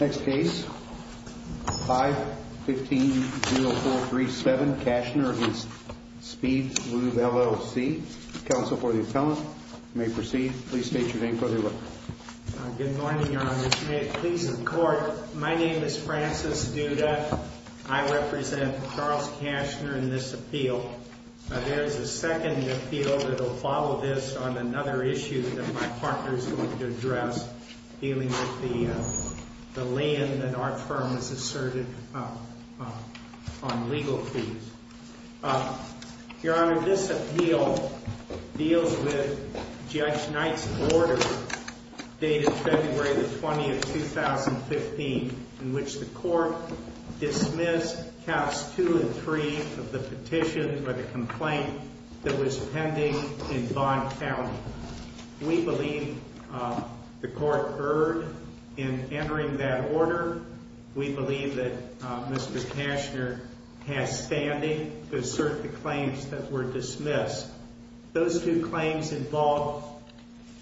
Next case, 5-15-0437, Cashner v. Speed Lube, LLC. Counsel for the appellant, you may proceed. Please state your name for the record. Good morning, Your Honor. Just may it please the court, my name is Francis Duda. I represent Charles Cashner in this appeal. There's a second appeal that will follow this on another issue that my partner is going to address dealing with the land that our firm has asserted on legal fees. Your Honor, this appeal deals with Judge Knight's order dated February 20, 2015, in which the court dismissed Caps 2 and 3 of the petition for the complaint that was pending in Vaughn County. We believe the court erred in entering that order. We believe that Mr. Cashner has standing to assert the claims that were dismissed. Those two claims involve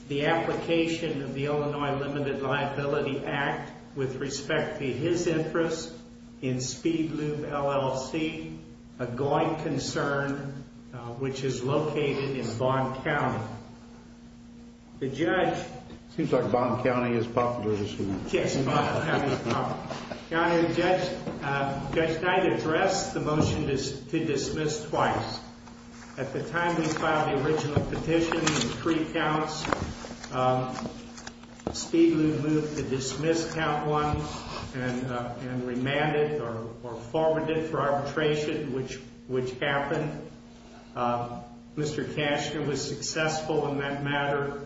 the application of the Illinois Limited Liability Act with respect to his interest in Speed Lube, LLC, a going concern which is located in Vaughn County. The judge... Seems like Vaughn County is popular this week. Yes, Vaughn County is popular. Your Honor, Judge Knight addressed the motion to dismiss twice. At the time we filed the original petition, three counts, Speed Lube moved to dismiss Count 1 and remanded or forwarded for arbitration, which happened. Mr. Cashner was successful in that matter.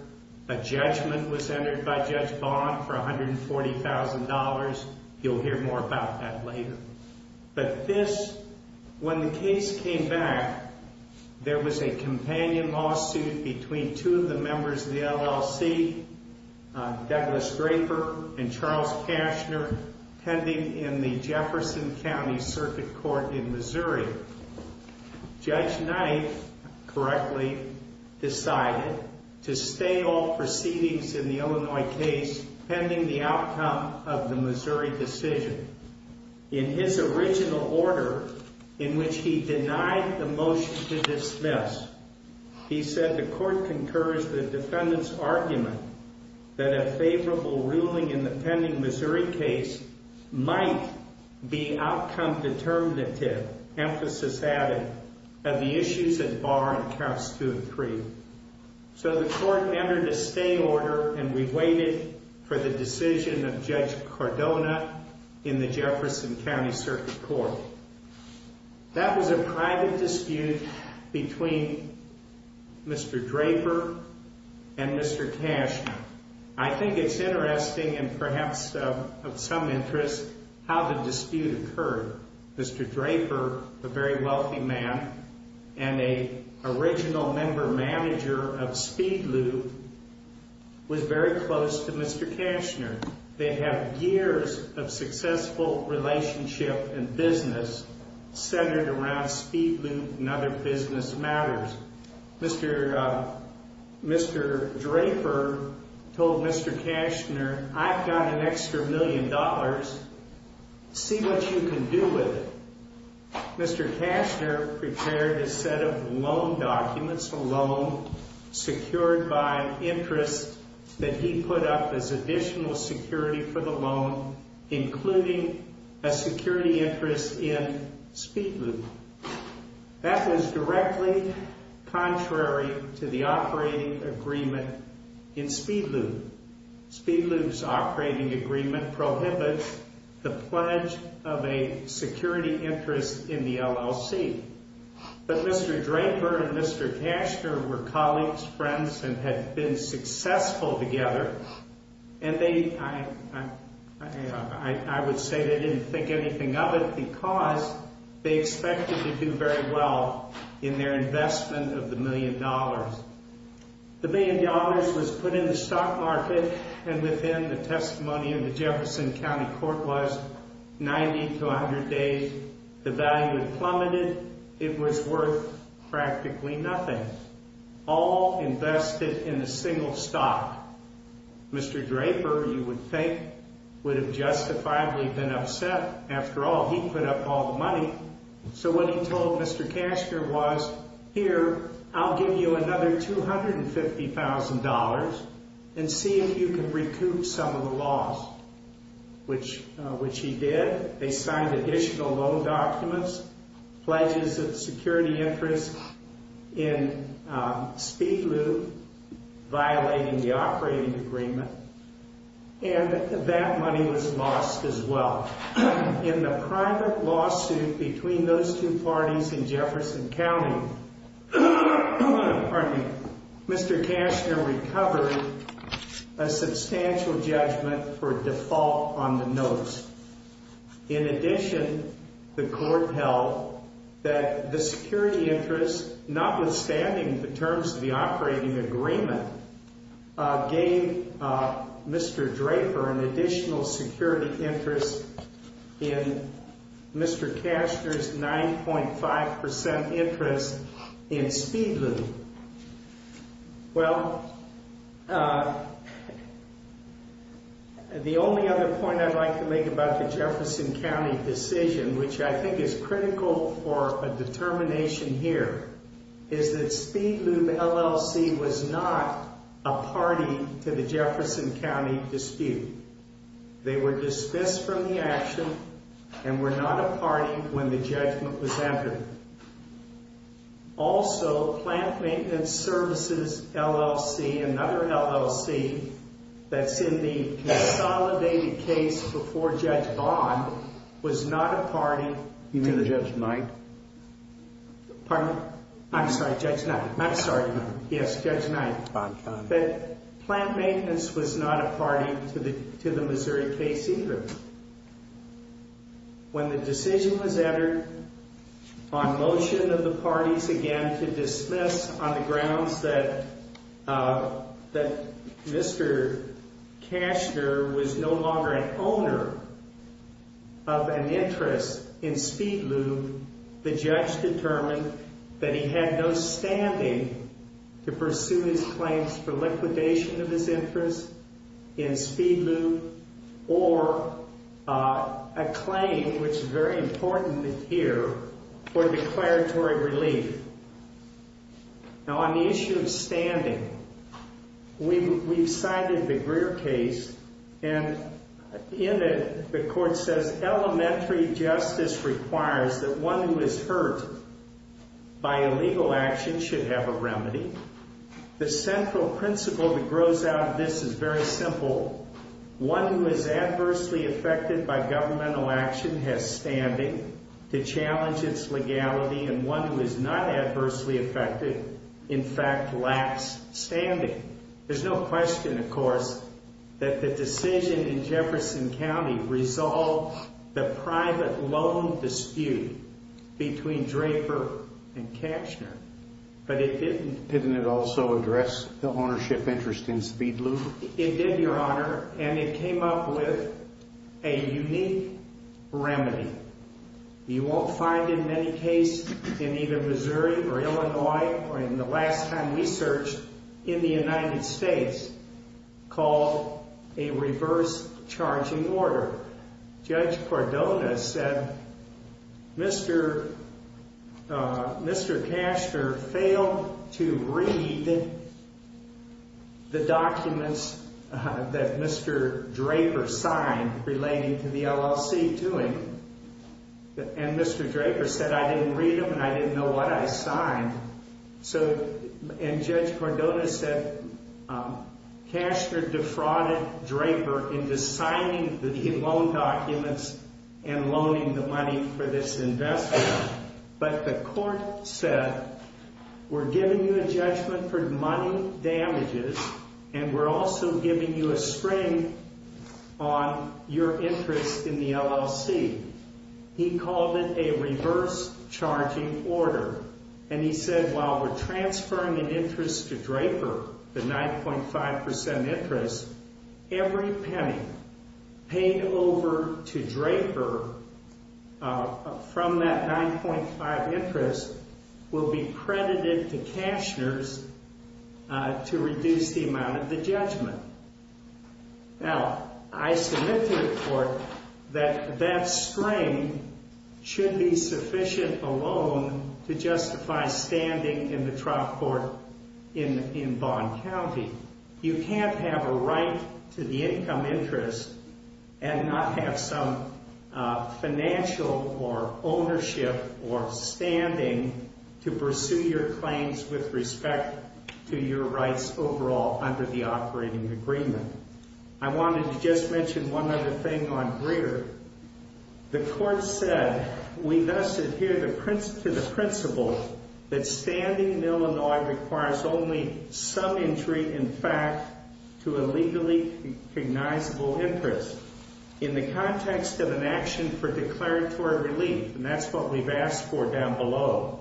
A judgment was entered by Judge Vaughn for $140,000. You'll hear more about that later. But this, when the case came back, there was a companion lawsuit between two of the members of the LLC, Douglas Draper and Charles Cashner, pending in the Jefferson County Circuit Court in Missouri. Judge Knight correctly decided to stay all proceedings in the Illinois case pending the outcome of the Missouri decision. In his original order, in which he denied the motion to dismiss, he said the court concurs the defendant's argument that a favorable ruling in the pending Missouri case might be outcome determinative, emphasis added, of the issues at bar in Counts 2 and 3. So the court entered a stay order and we waited for the decision of Judge Cordona in the Jefferson County Circuit Court. That was a private dispute between Mr. Draper and Mr. Cashner. I think it's interesting, and perhaps of some interest, how the dispute occurred. Mr. Draper, a very wealthy man and a original member manager of Speed Loop, was very close to Mr. Cashner. They'd had years of successful relationship and business centered around Speed Loop and other business matters. Mr. Mr. Draper told Mr. Cashner, I've got an extra million dollars, see what you can do with it. Mr. Cashner prepared a set of loan documents, a loan secured by interest that he put up as additional security for the loan, including a security interest in Speed Loop. That was directly contrary to the operating agreement in Speed Loop. Speed Loop's operating agreement prohibits the pledge of a security interest in the LLC, but Mr. Draper and Mr. Cashner were colleagues, friends, and had been successful together, and I would say they didn't think anything of it because they expected to do very well in their investment of the million dollars. The million dollars was put in the stock market, and within the testimony of the Jefferson County Court was 90 to 100 days, the value had plummeted, it was worth practically nothing. All invested in a single stock. Mr. Draper, you would think, would have justifiably been upset. After all, he put up all the money. So what he told Mr. Cashner was, here, I'll give you another $250,000 and see if you can recoup some of the loss, which he did. They signed additional loan documents, pledges of security interest in Speed Loop violating the operating agreement, and that money was lost as well. In the private lawsuit between those two parties in Jefferson County, Mr. Cashner recovered a substantial judgment for default on the notice. In addition, the court held that the security interest, notwithstanding the terms of the agreement, gave Mr. Draper an additional security interest in Mr. Cashner's 9.5% interest in Speed Loop. Well, the only other point I'd like to make about the Jefferson County decision, which I think is critical for a determination here, is that Speed Loop LLC was not a party to the Jefferson County dispute. They were dismissed from the action and were not a party when the judgment was entered. Also, Plant Maintenance Services LLC, another LLC that's in the consolidated case before Judge Bond, was not a party to the Missouri case either. When the decision was entered on motion of the parties again to dismiss on the basis that they were an owner of an interest in Speed Loop, the judge determined that he had no standing to pursue his claims for liquidation of his interest in Speed Loop or a claim, which is very important here, for declaratory relief. Now, on the issue of standing, we've cited the Greer case, and in it, the court says elementary justice requires that one who is hurt by illegal action should have a remedy. The central principle that grows out of this is very simple. One who is adversely affected by governmental action has standing to challenge its legality, and one who is not adversely affected, in fact, lacks standing. There's no question, of course, that the decision in Jefferson County resolved the private loan dispute between Draper and Kachner, but it didn't. Didn't it also address the ownership interest in Speed Loop? It did, Your Honor, and it came up with a unique remedy. You won't find it in any case in either Missouri or Illinois, or in the last time we searched, in the United States, called a reverse charging order. Judge Cordona said Mr. Kachner failed to read the documents that Mr. Draper signed relating to the LLC to him, and Mr. Draper said, I didn't read them, and I didn't know what I signed. So, and Judge Cordona said Kachner defrauded Draper into signing the loan documents and loaning the money for this investment, but the court said, we're also giving you a spring on your interest in the LLC. He called it a reverse charging order, and he said, while we're transferring an interest to Draper, the 9.5% interest, every penny paid over to Draper from that investment. Now, I submit to the court that that spring should be sufficient alone to justify standing in the trial court in, in Bond County. You can't have a right to the income interest and not have some financial or ownership or standing to pursue your claims with respect to your rights overall under the operating agreement. I wanted to just mention one other thing on Greer. The court said, we thus adhere to the principle that standing in Illinois requires only some entry, in fact, to a legally recognizable interest in the context of an action for declaratory relief, and that's what we've asked for down below.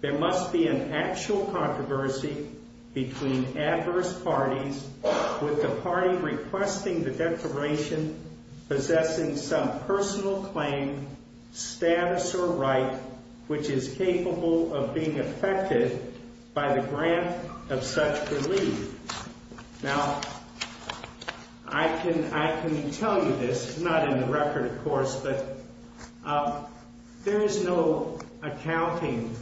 There must be an actual controversy between adverse parties with the party requesting the declaration possessing some personal claim, status, or right, which is capable of being affected by the grant of such relief. Now, I can, I can tell you this, not in the record, of course, but, um, there is no accounting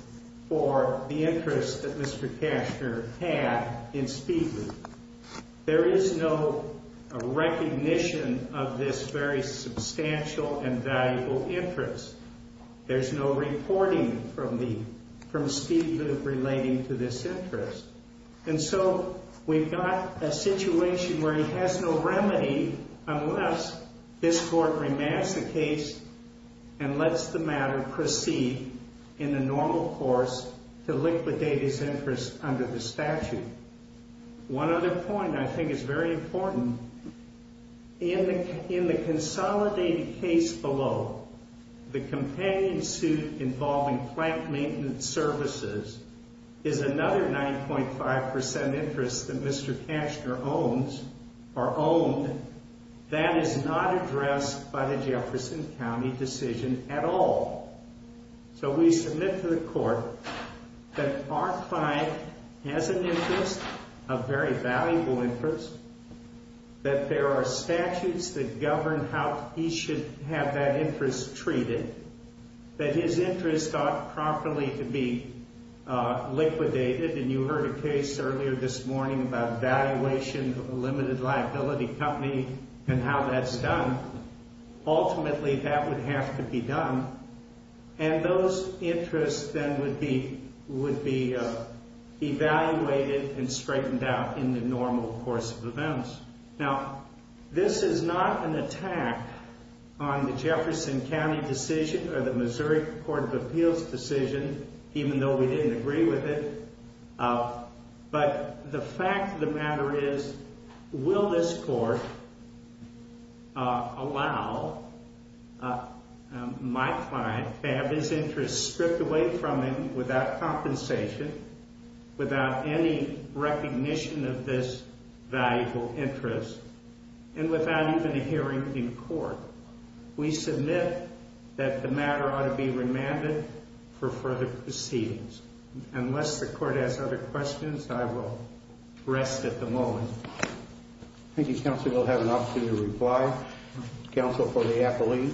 for the interest that Mr. Cashner had in Speedleaf. There is no recognition of this very substantial and valuable interest. There's no reporting from the, from Speedleaf relating to this interest. And so we've got a situation where he has no remedy unless this court remands the case and lets the matter proceed in the normal course to liquidate his interest under the statute. One other point I think is very important. In the, in the consolidated case below, the companion suit involving plank maintenance services is another 9.5% interest that Mr. Cashner had in the case. And so we submit to the court that our client has an interest, a very valuable interest, that there are statutes that govern how he should have that interest treated, that his interest ought properly to be, uh, liquidated. And you heard a case earlier this morning about valuation of a limited liability company and how that's done. Ultimately, that would have to be done. And those interests then would be, would be, uh, evaluated and straightened out in the normal course of events. Now, this is not an attack on the Jefferson County decision or the Missouri Court of Appeals decision, even though we didn't agree with it. But the fact of the matter is, will this court allow my client to have his interest stripped away from him without compensation, without any recognition of this valuable interest, and without even a hearing in court, we submit that the matter ought to be remanded for further proceedings, unless the court has other questions, I will rest at the moment. Thank you, counsel. We'll have an opportunity to reply. Counsel for the appellee.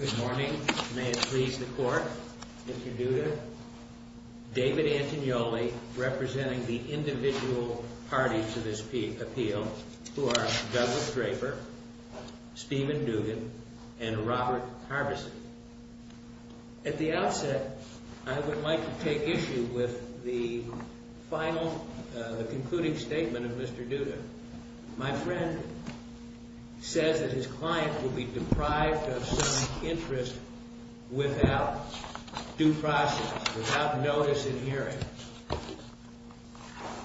Good morning. May it please the court, if you do, David Antignoli, representing the Appeal, who are Douglas Draper, Steven Dugan, and Robert Harbison. At the outset, I would like to take issue with the final, uh, the concluding statement of Mr. Duda. My friend says that his client will be deprived of some interest without due process, without notice in hearing.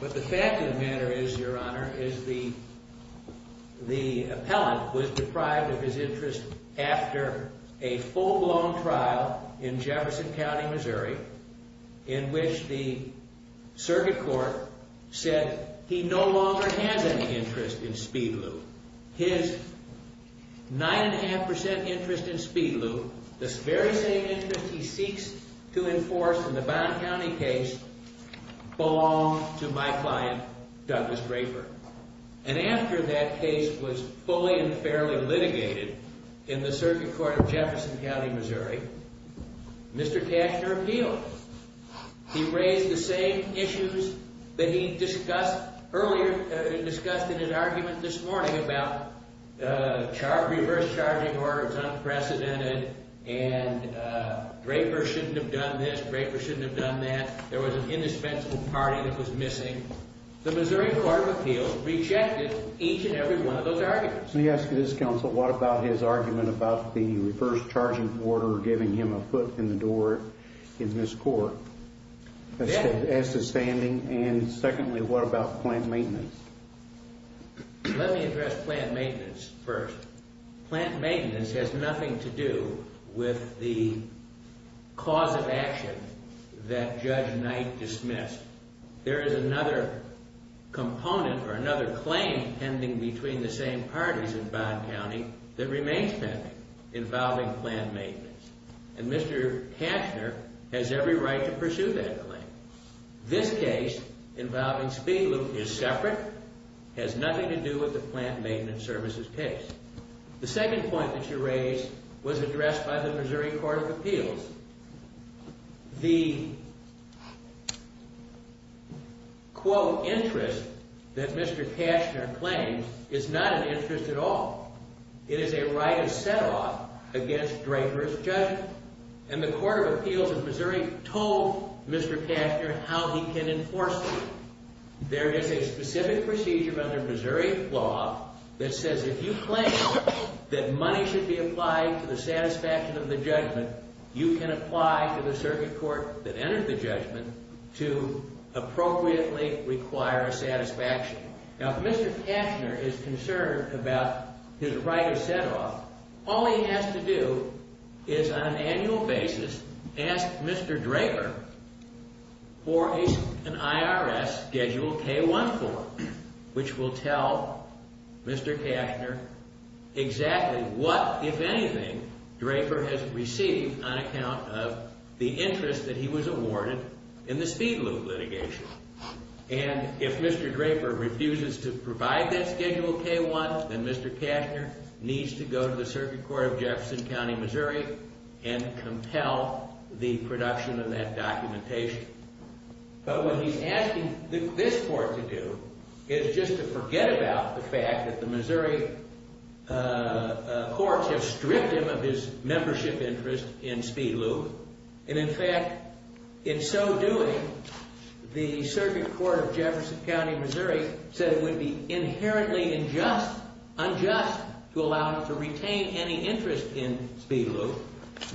But the fact of the matter is, your honor, is the, the appellant was deprived of his interest after a full blown trial in Jefferson County, Missouri, in which the circuit court said he no longer has any interest in speed loop. His nine and a half percent interest in speed loop, the very same interest he belonged to my client, Douglas Draper. And after that case was fully and fairly litigated in the circuit court of Jefferson County, Missouri, Mr. Tashner appealed. He raised the same issues that he discussed earlier, uh, discussed in his argument this morning about, uh, reverse charging order was unprecedented. And, uh, Draper shouldn't have done this. Draper shouldn't have done that. There was an indispensable party that was missing. The Missouri court of appeals rejected each and every one of those arguments. Let me ask you this, counsel. What about his argument about the reverse charging order giving him a foot in the door in this court as to standing? And secondly, what about plant maintenance? Let me address plant maintenance first. Plant maintenance has nothing to do with the cause of action that Judge Knight dismissed. There is another component or another claim pending between the same parties in Bond County that remains pending involving plant maintenance. And Mr. Tashner has every right to pursue that claim. This case involving speed loop is separate, has nothing to do with the plant maintenance services case. The second point that you raised was addressed by the Missouri court of appeals. The quote, interest that Mr. Tashner claims is not an interest at all. It is a right of set off against Draper's judgment. And the court of appeals in Missouri told Mr. Tashner how he can enforce it. There is a specific procedure under Missouri law that says if you claim that money should be applied to the satisfaction of the judgment, you can apply to the circuit court that entered the judgment to appropriately require a satisfaction. Now, if Mr. Tashner is concerned about his right of set off, all he has to do is on an annual basis, ask Mr. Draper for an IRS schedule K-1 form, which will tell Mr. Tashner exactly what, if anything, Draper has received on account of the interest that he was awarded in the speed loop litigation. And if Mr. Draper refuses to provide that schedule K-1, then Mr. Tashner needs to go to the circuit court of Jefferson County, Missouri, and compel the production of that documentation. But what he's asking this court to do is just to forget about the fact that the courts have stripped him of his membership interest in speed loop. And in fact, in so doing, the circuit court of Jefferson County, Missouri, said it would be inherently unjust to allow him to retain any interest in speed loop.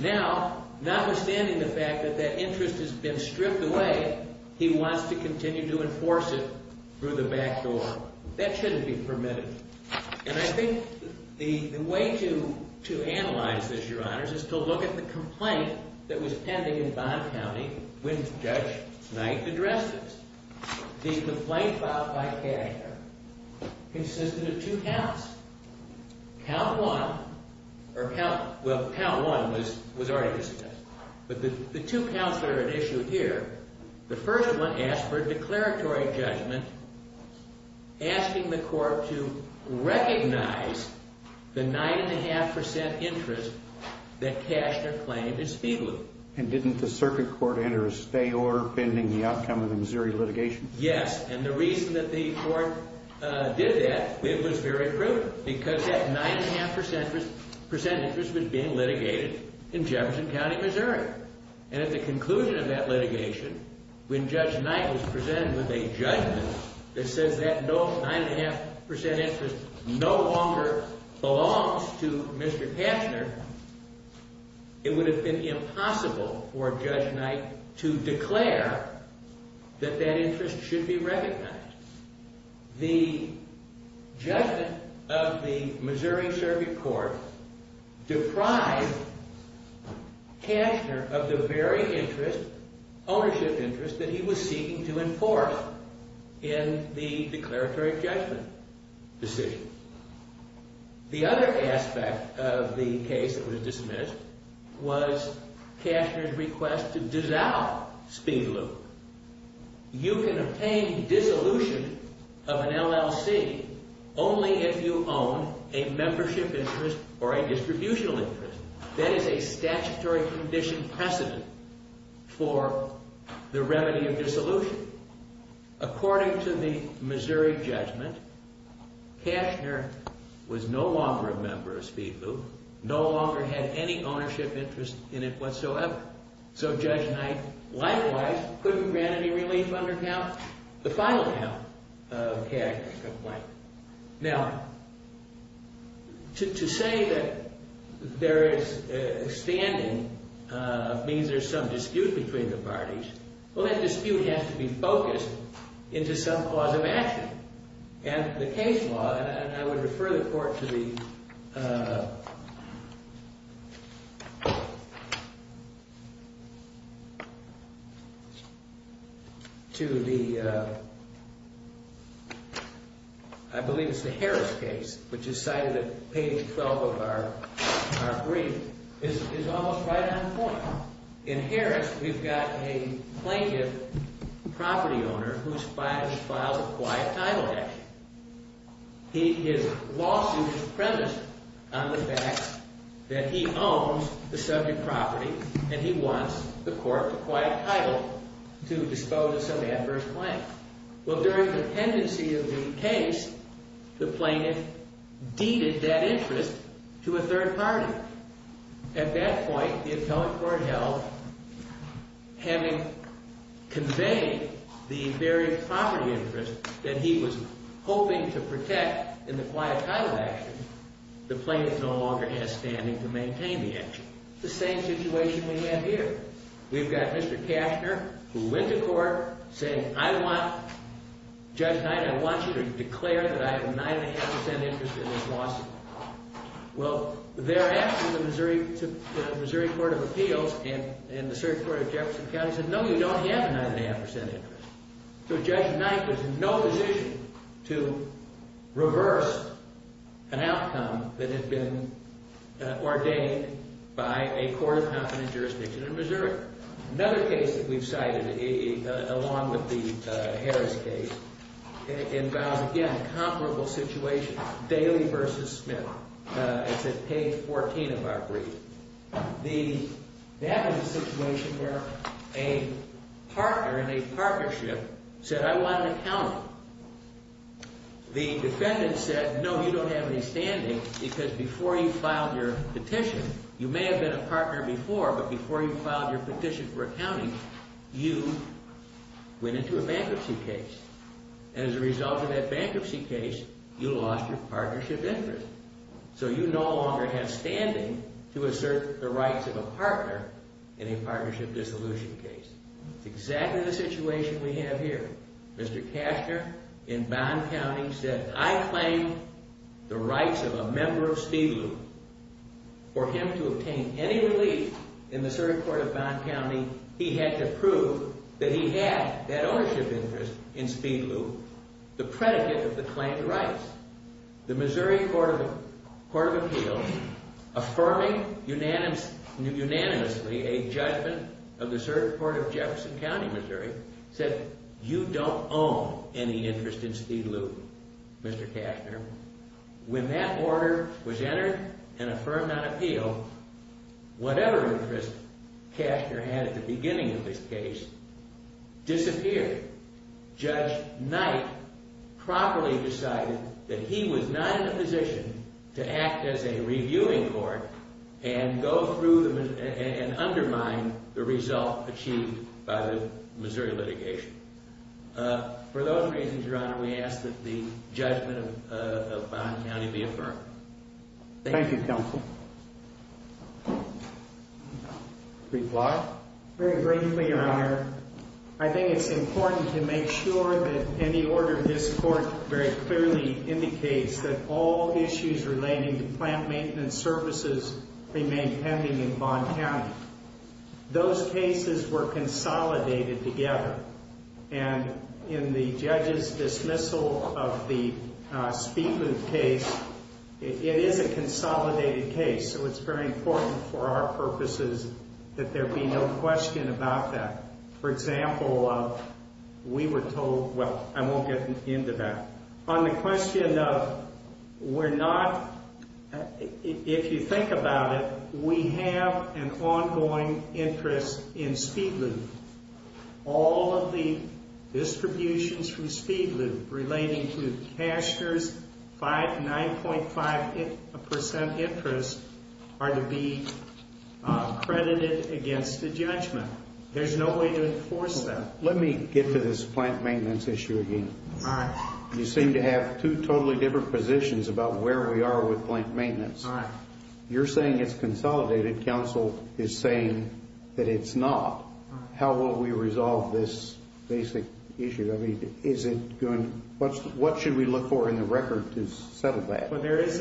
Now, notwithstanding the fact that that interest has been stripped away, he wants to continue to enforce it through the back door. That shouldn't be permitted. And I think the way to analyze this, Your Honors, is to look at the complaint that was pending in Bond County when Judge Knight addressed this. The complaint filed by Kashner consisted of two counts. Count one, or count, well, count one was already discussed, but the two counts that are at issue here, the first one asked for a declaratory judgment asking the court to recognize the nine and a half percent interest that Kashner claimed in speed loop. And didn't the circuit court enter a stay order pending the outcome of the Missouri litigation? Yes. And the reason that the court did that, it was very prudent because that nine and a half percent interest was being litigated in Jefferson County, Missouri. And at the conclusion of that litigation, when Judge Knight was presented with a judgment that says that no nine and a half percent interest no longer belongs to Mr. Kashner, it would have been impossible for Judge Knight to declare that that interest should be recognized. The judgment of the Missouri circuit court deprived Kashner of the very interest, ownership interest that he was seeking to enforce in the declaratory judgment decision. The other aspect of the case that was dismissed was Kashner's request to dissolve speed loop. You can obtain dissolution of an LLC only if you own a membership interest or a distributional interest. That is a statutory condition precedent for the remedy of dissolution. According to the Missouri judgment, Kashner was no longer a member of speed loop, no longer had any ownership interest in it whatsoever. So Judge Knight, likewise, couldn't grant any relief under count, the final count of Kashner's complaint. Now, to say that there is a standing means there's some dispute between the parties. Well, that dispute has to be focused into some cause of action and the case law. And I would refer the court to the. I believe it's the Harris case, which is cited at page 12 of our brief, is almost right on point. In Harris, we've got a plaintiff property owner who's filed a quiet title action. He is lawsuit is premised on the fact that he owns the subject property and he wants the court to quiet title to dispose of some adverse claim. Well, during the pendency of the case, the plaintiff deeded that interest to a third party. At that point, the appellate court held having conveyed the very property interest that he was hoping to protect in the quiet title action. The plaintiff no longer has standing to maintain the action. The same situation we have here. We've got Mr. Kashner who went to court saying, I want Judge Knight, I want you to declare that I have nine and a half percent interest in this lawsuit. Well, thereafter, the Missouri, the Missouri Court of Appeals and the circuit court of Jefferson County said, no, you don't have a nine and a half percent interest. So Judge Knight was in no position to reverse an outcome that had been ordained by a court of competent jurisdiction in Missouri. Another case that we've cited along with the Harris case involves, again, a comparable situation, Daley versus Smith. It's at page 14 of our brief. The, that was a situation where a partner in a partnership said, I want an accountant. The defendant said, no, you don't have any standing because before you filed your petition, you may have been a partner before, but before you filed your petition for accounting, you went into a bankruptcy case. As a result of that bankruptcy case, you lost your partnership interest. So you no longer have standing to assert the rights of a partner in a partnership dissolution case. It's exactly the situation we have here. Mr. Cashner in Bond County said, I claim the rights of a member of Speed Loop. For him to obtain any relief in the circuit court of Bond County, he had to prove that he had that ownership interest in Speed Loop, the predicate of the claimed rights. The Missouri Court of Appeals, affirming unanimously a judgment of the circuit court of Jefferson County, Missouri, said, you don't own any interest in Speed Loop, Mr. Cashner. When that order was entered and affirmed on appeal, whatever interest Cashner had at the beginning of this case disappeared. Judge Knight properly decided that he was not in a position to act as a reviewing court and go through and undermine the result achieved by the Missouri litigation. For those reasons, Your Honor, we ask that the judgment of Bond County be affirmed. Thank you, counsel. Briefly, Your Honor, I think it's important to make sure that any order of this court very clearly indicates that all issues relating to plant maintenance services remain pending in Bond County. Those cases were consolidated together, and in the judge's dismissal of the Speed Loop case, it is a consolidated case. So it's very important for our purposes that there be no question about that. For example, we were told, well, I won't get into that. On the question of we're not, if you think about it, we have an ongoing interest in Speed Loop relating to Cashner's 9.5% interest are to be credited against the judgment. There's no way to enforce that. Let me get to this plant maintenance issue again. You seem to have two totally different positions about where we are with plant maintenance. You're saying it's consolidated. Counsel is saying that it's not. How will we resolve this basic issue? What should we look for in the record to settle that? Well, there is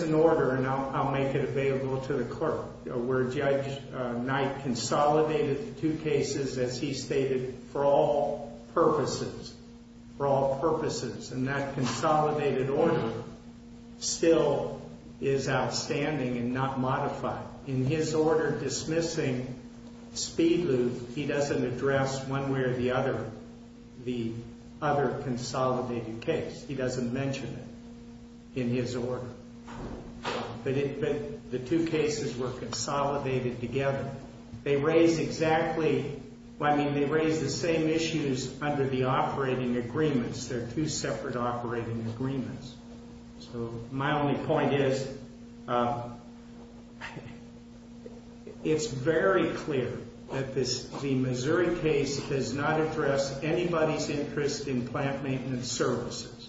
an order, and I'll make it available to the clerk, where Judge Knight consolidated the two cases, as he stated, for all purposes, for all purposes. And that consolidated order still is outstanding and not modified. In his order dismissing Speed Loop, he doesn't address one way or the other the other consolidated case. He doesn't mention it in his order, but the two cases were consolidated together. They raise exactly, I mean, they raise the same issues under the operating agreements. They're two separate operating agreements. So my only point is, it's very clear that the Missouri case does not address anybody's interest in plant maintenance services.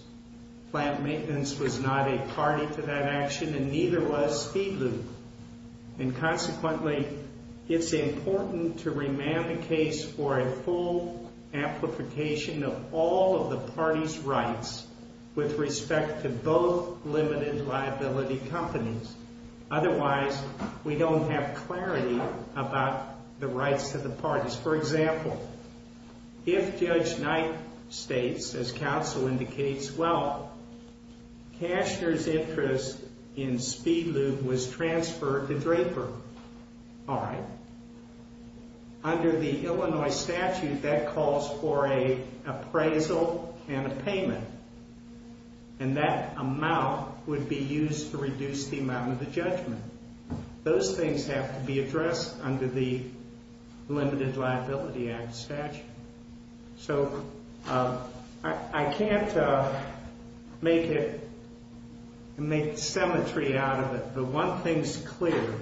Plant maintenance was not a party to that action, and neither was Speed Loop. And consequently, it's important to remand the case for a full amplification of all of the party's rights with respect to both limited liability companies. Otherwise, we don't have clarity about the rights of the parties. For example, if Judge Knight states, as counsel indicates, well, Cashner's interest in Speed Loop was transferred to Draper, all right, under the Illinois statute, that calls for a appraisal and a payment. And that amount would be used to reduce the amount of the judgment. Those things have to be addressed under the Limited Liability Act statute. So I can't make it, make symmetry out of it. But one thing's clear,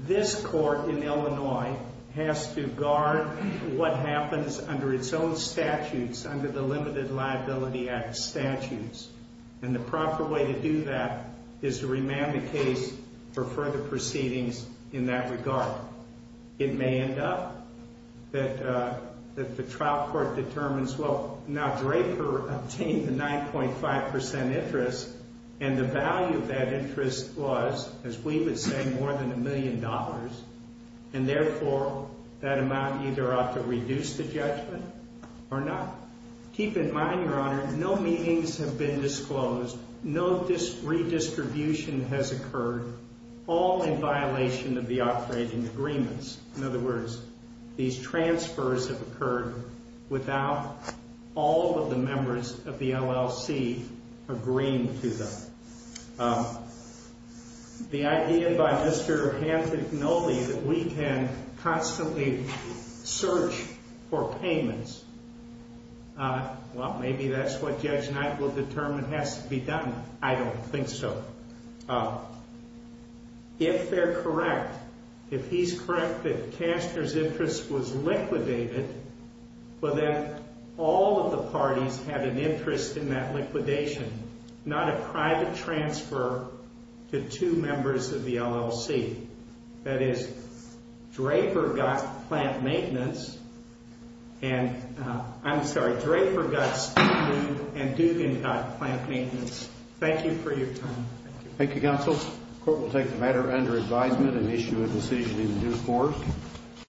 this court in Illinois has to guard what happens under its own statutes, under the Limited Liability Act statutes. And the proper way to do that is to remand the case for further proceedings in that regard. It may end up that the trial court determines, well, now Draper obtained a 9.5% interest, and the value of that interest was, as we would say, more than a million dollars. And therefore, that amount either ought to reduce the judgment or not. Keep in mind, Your Honor, no meetings have been disclosed. No redistribution has occurred, all in violation of the operating agreements. In other words, these transfers have occurred without all of the members of the LLC agreeing to them. The idea by Mr. Hancock-Nolly that we can constantly search for payments, well, maybe that's what Judge Knight will determine has to be done. I don't think so. If they're correct, if he's correct that Kastner's interest was liquidated, but then all of the money was liquidation, not a private transfer to two members of the LLC, that is, Draper got plant maintenance, and I'm sorry, Draper got standing and Dugan got plant maintenance. Thank you for your time. Thank you, counsel. Court will take the matter under advisement and issue a decision in due course.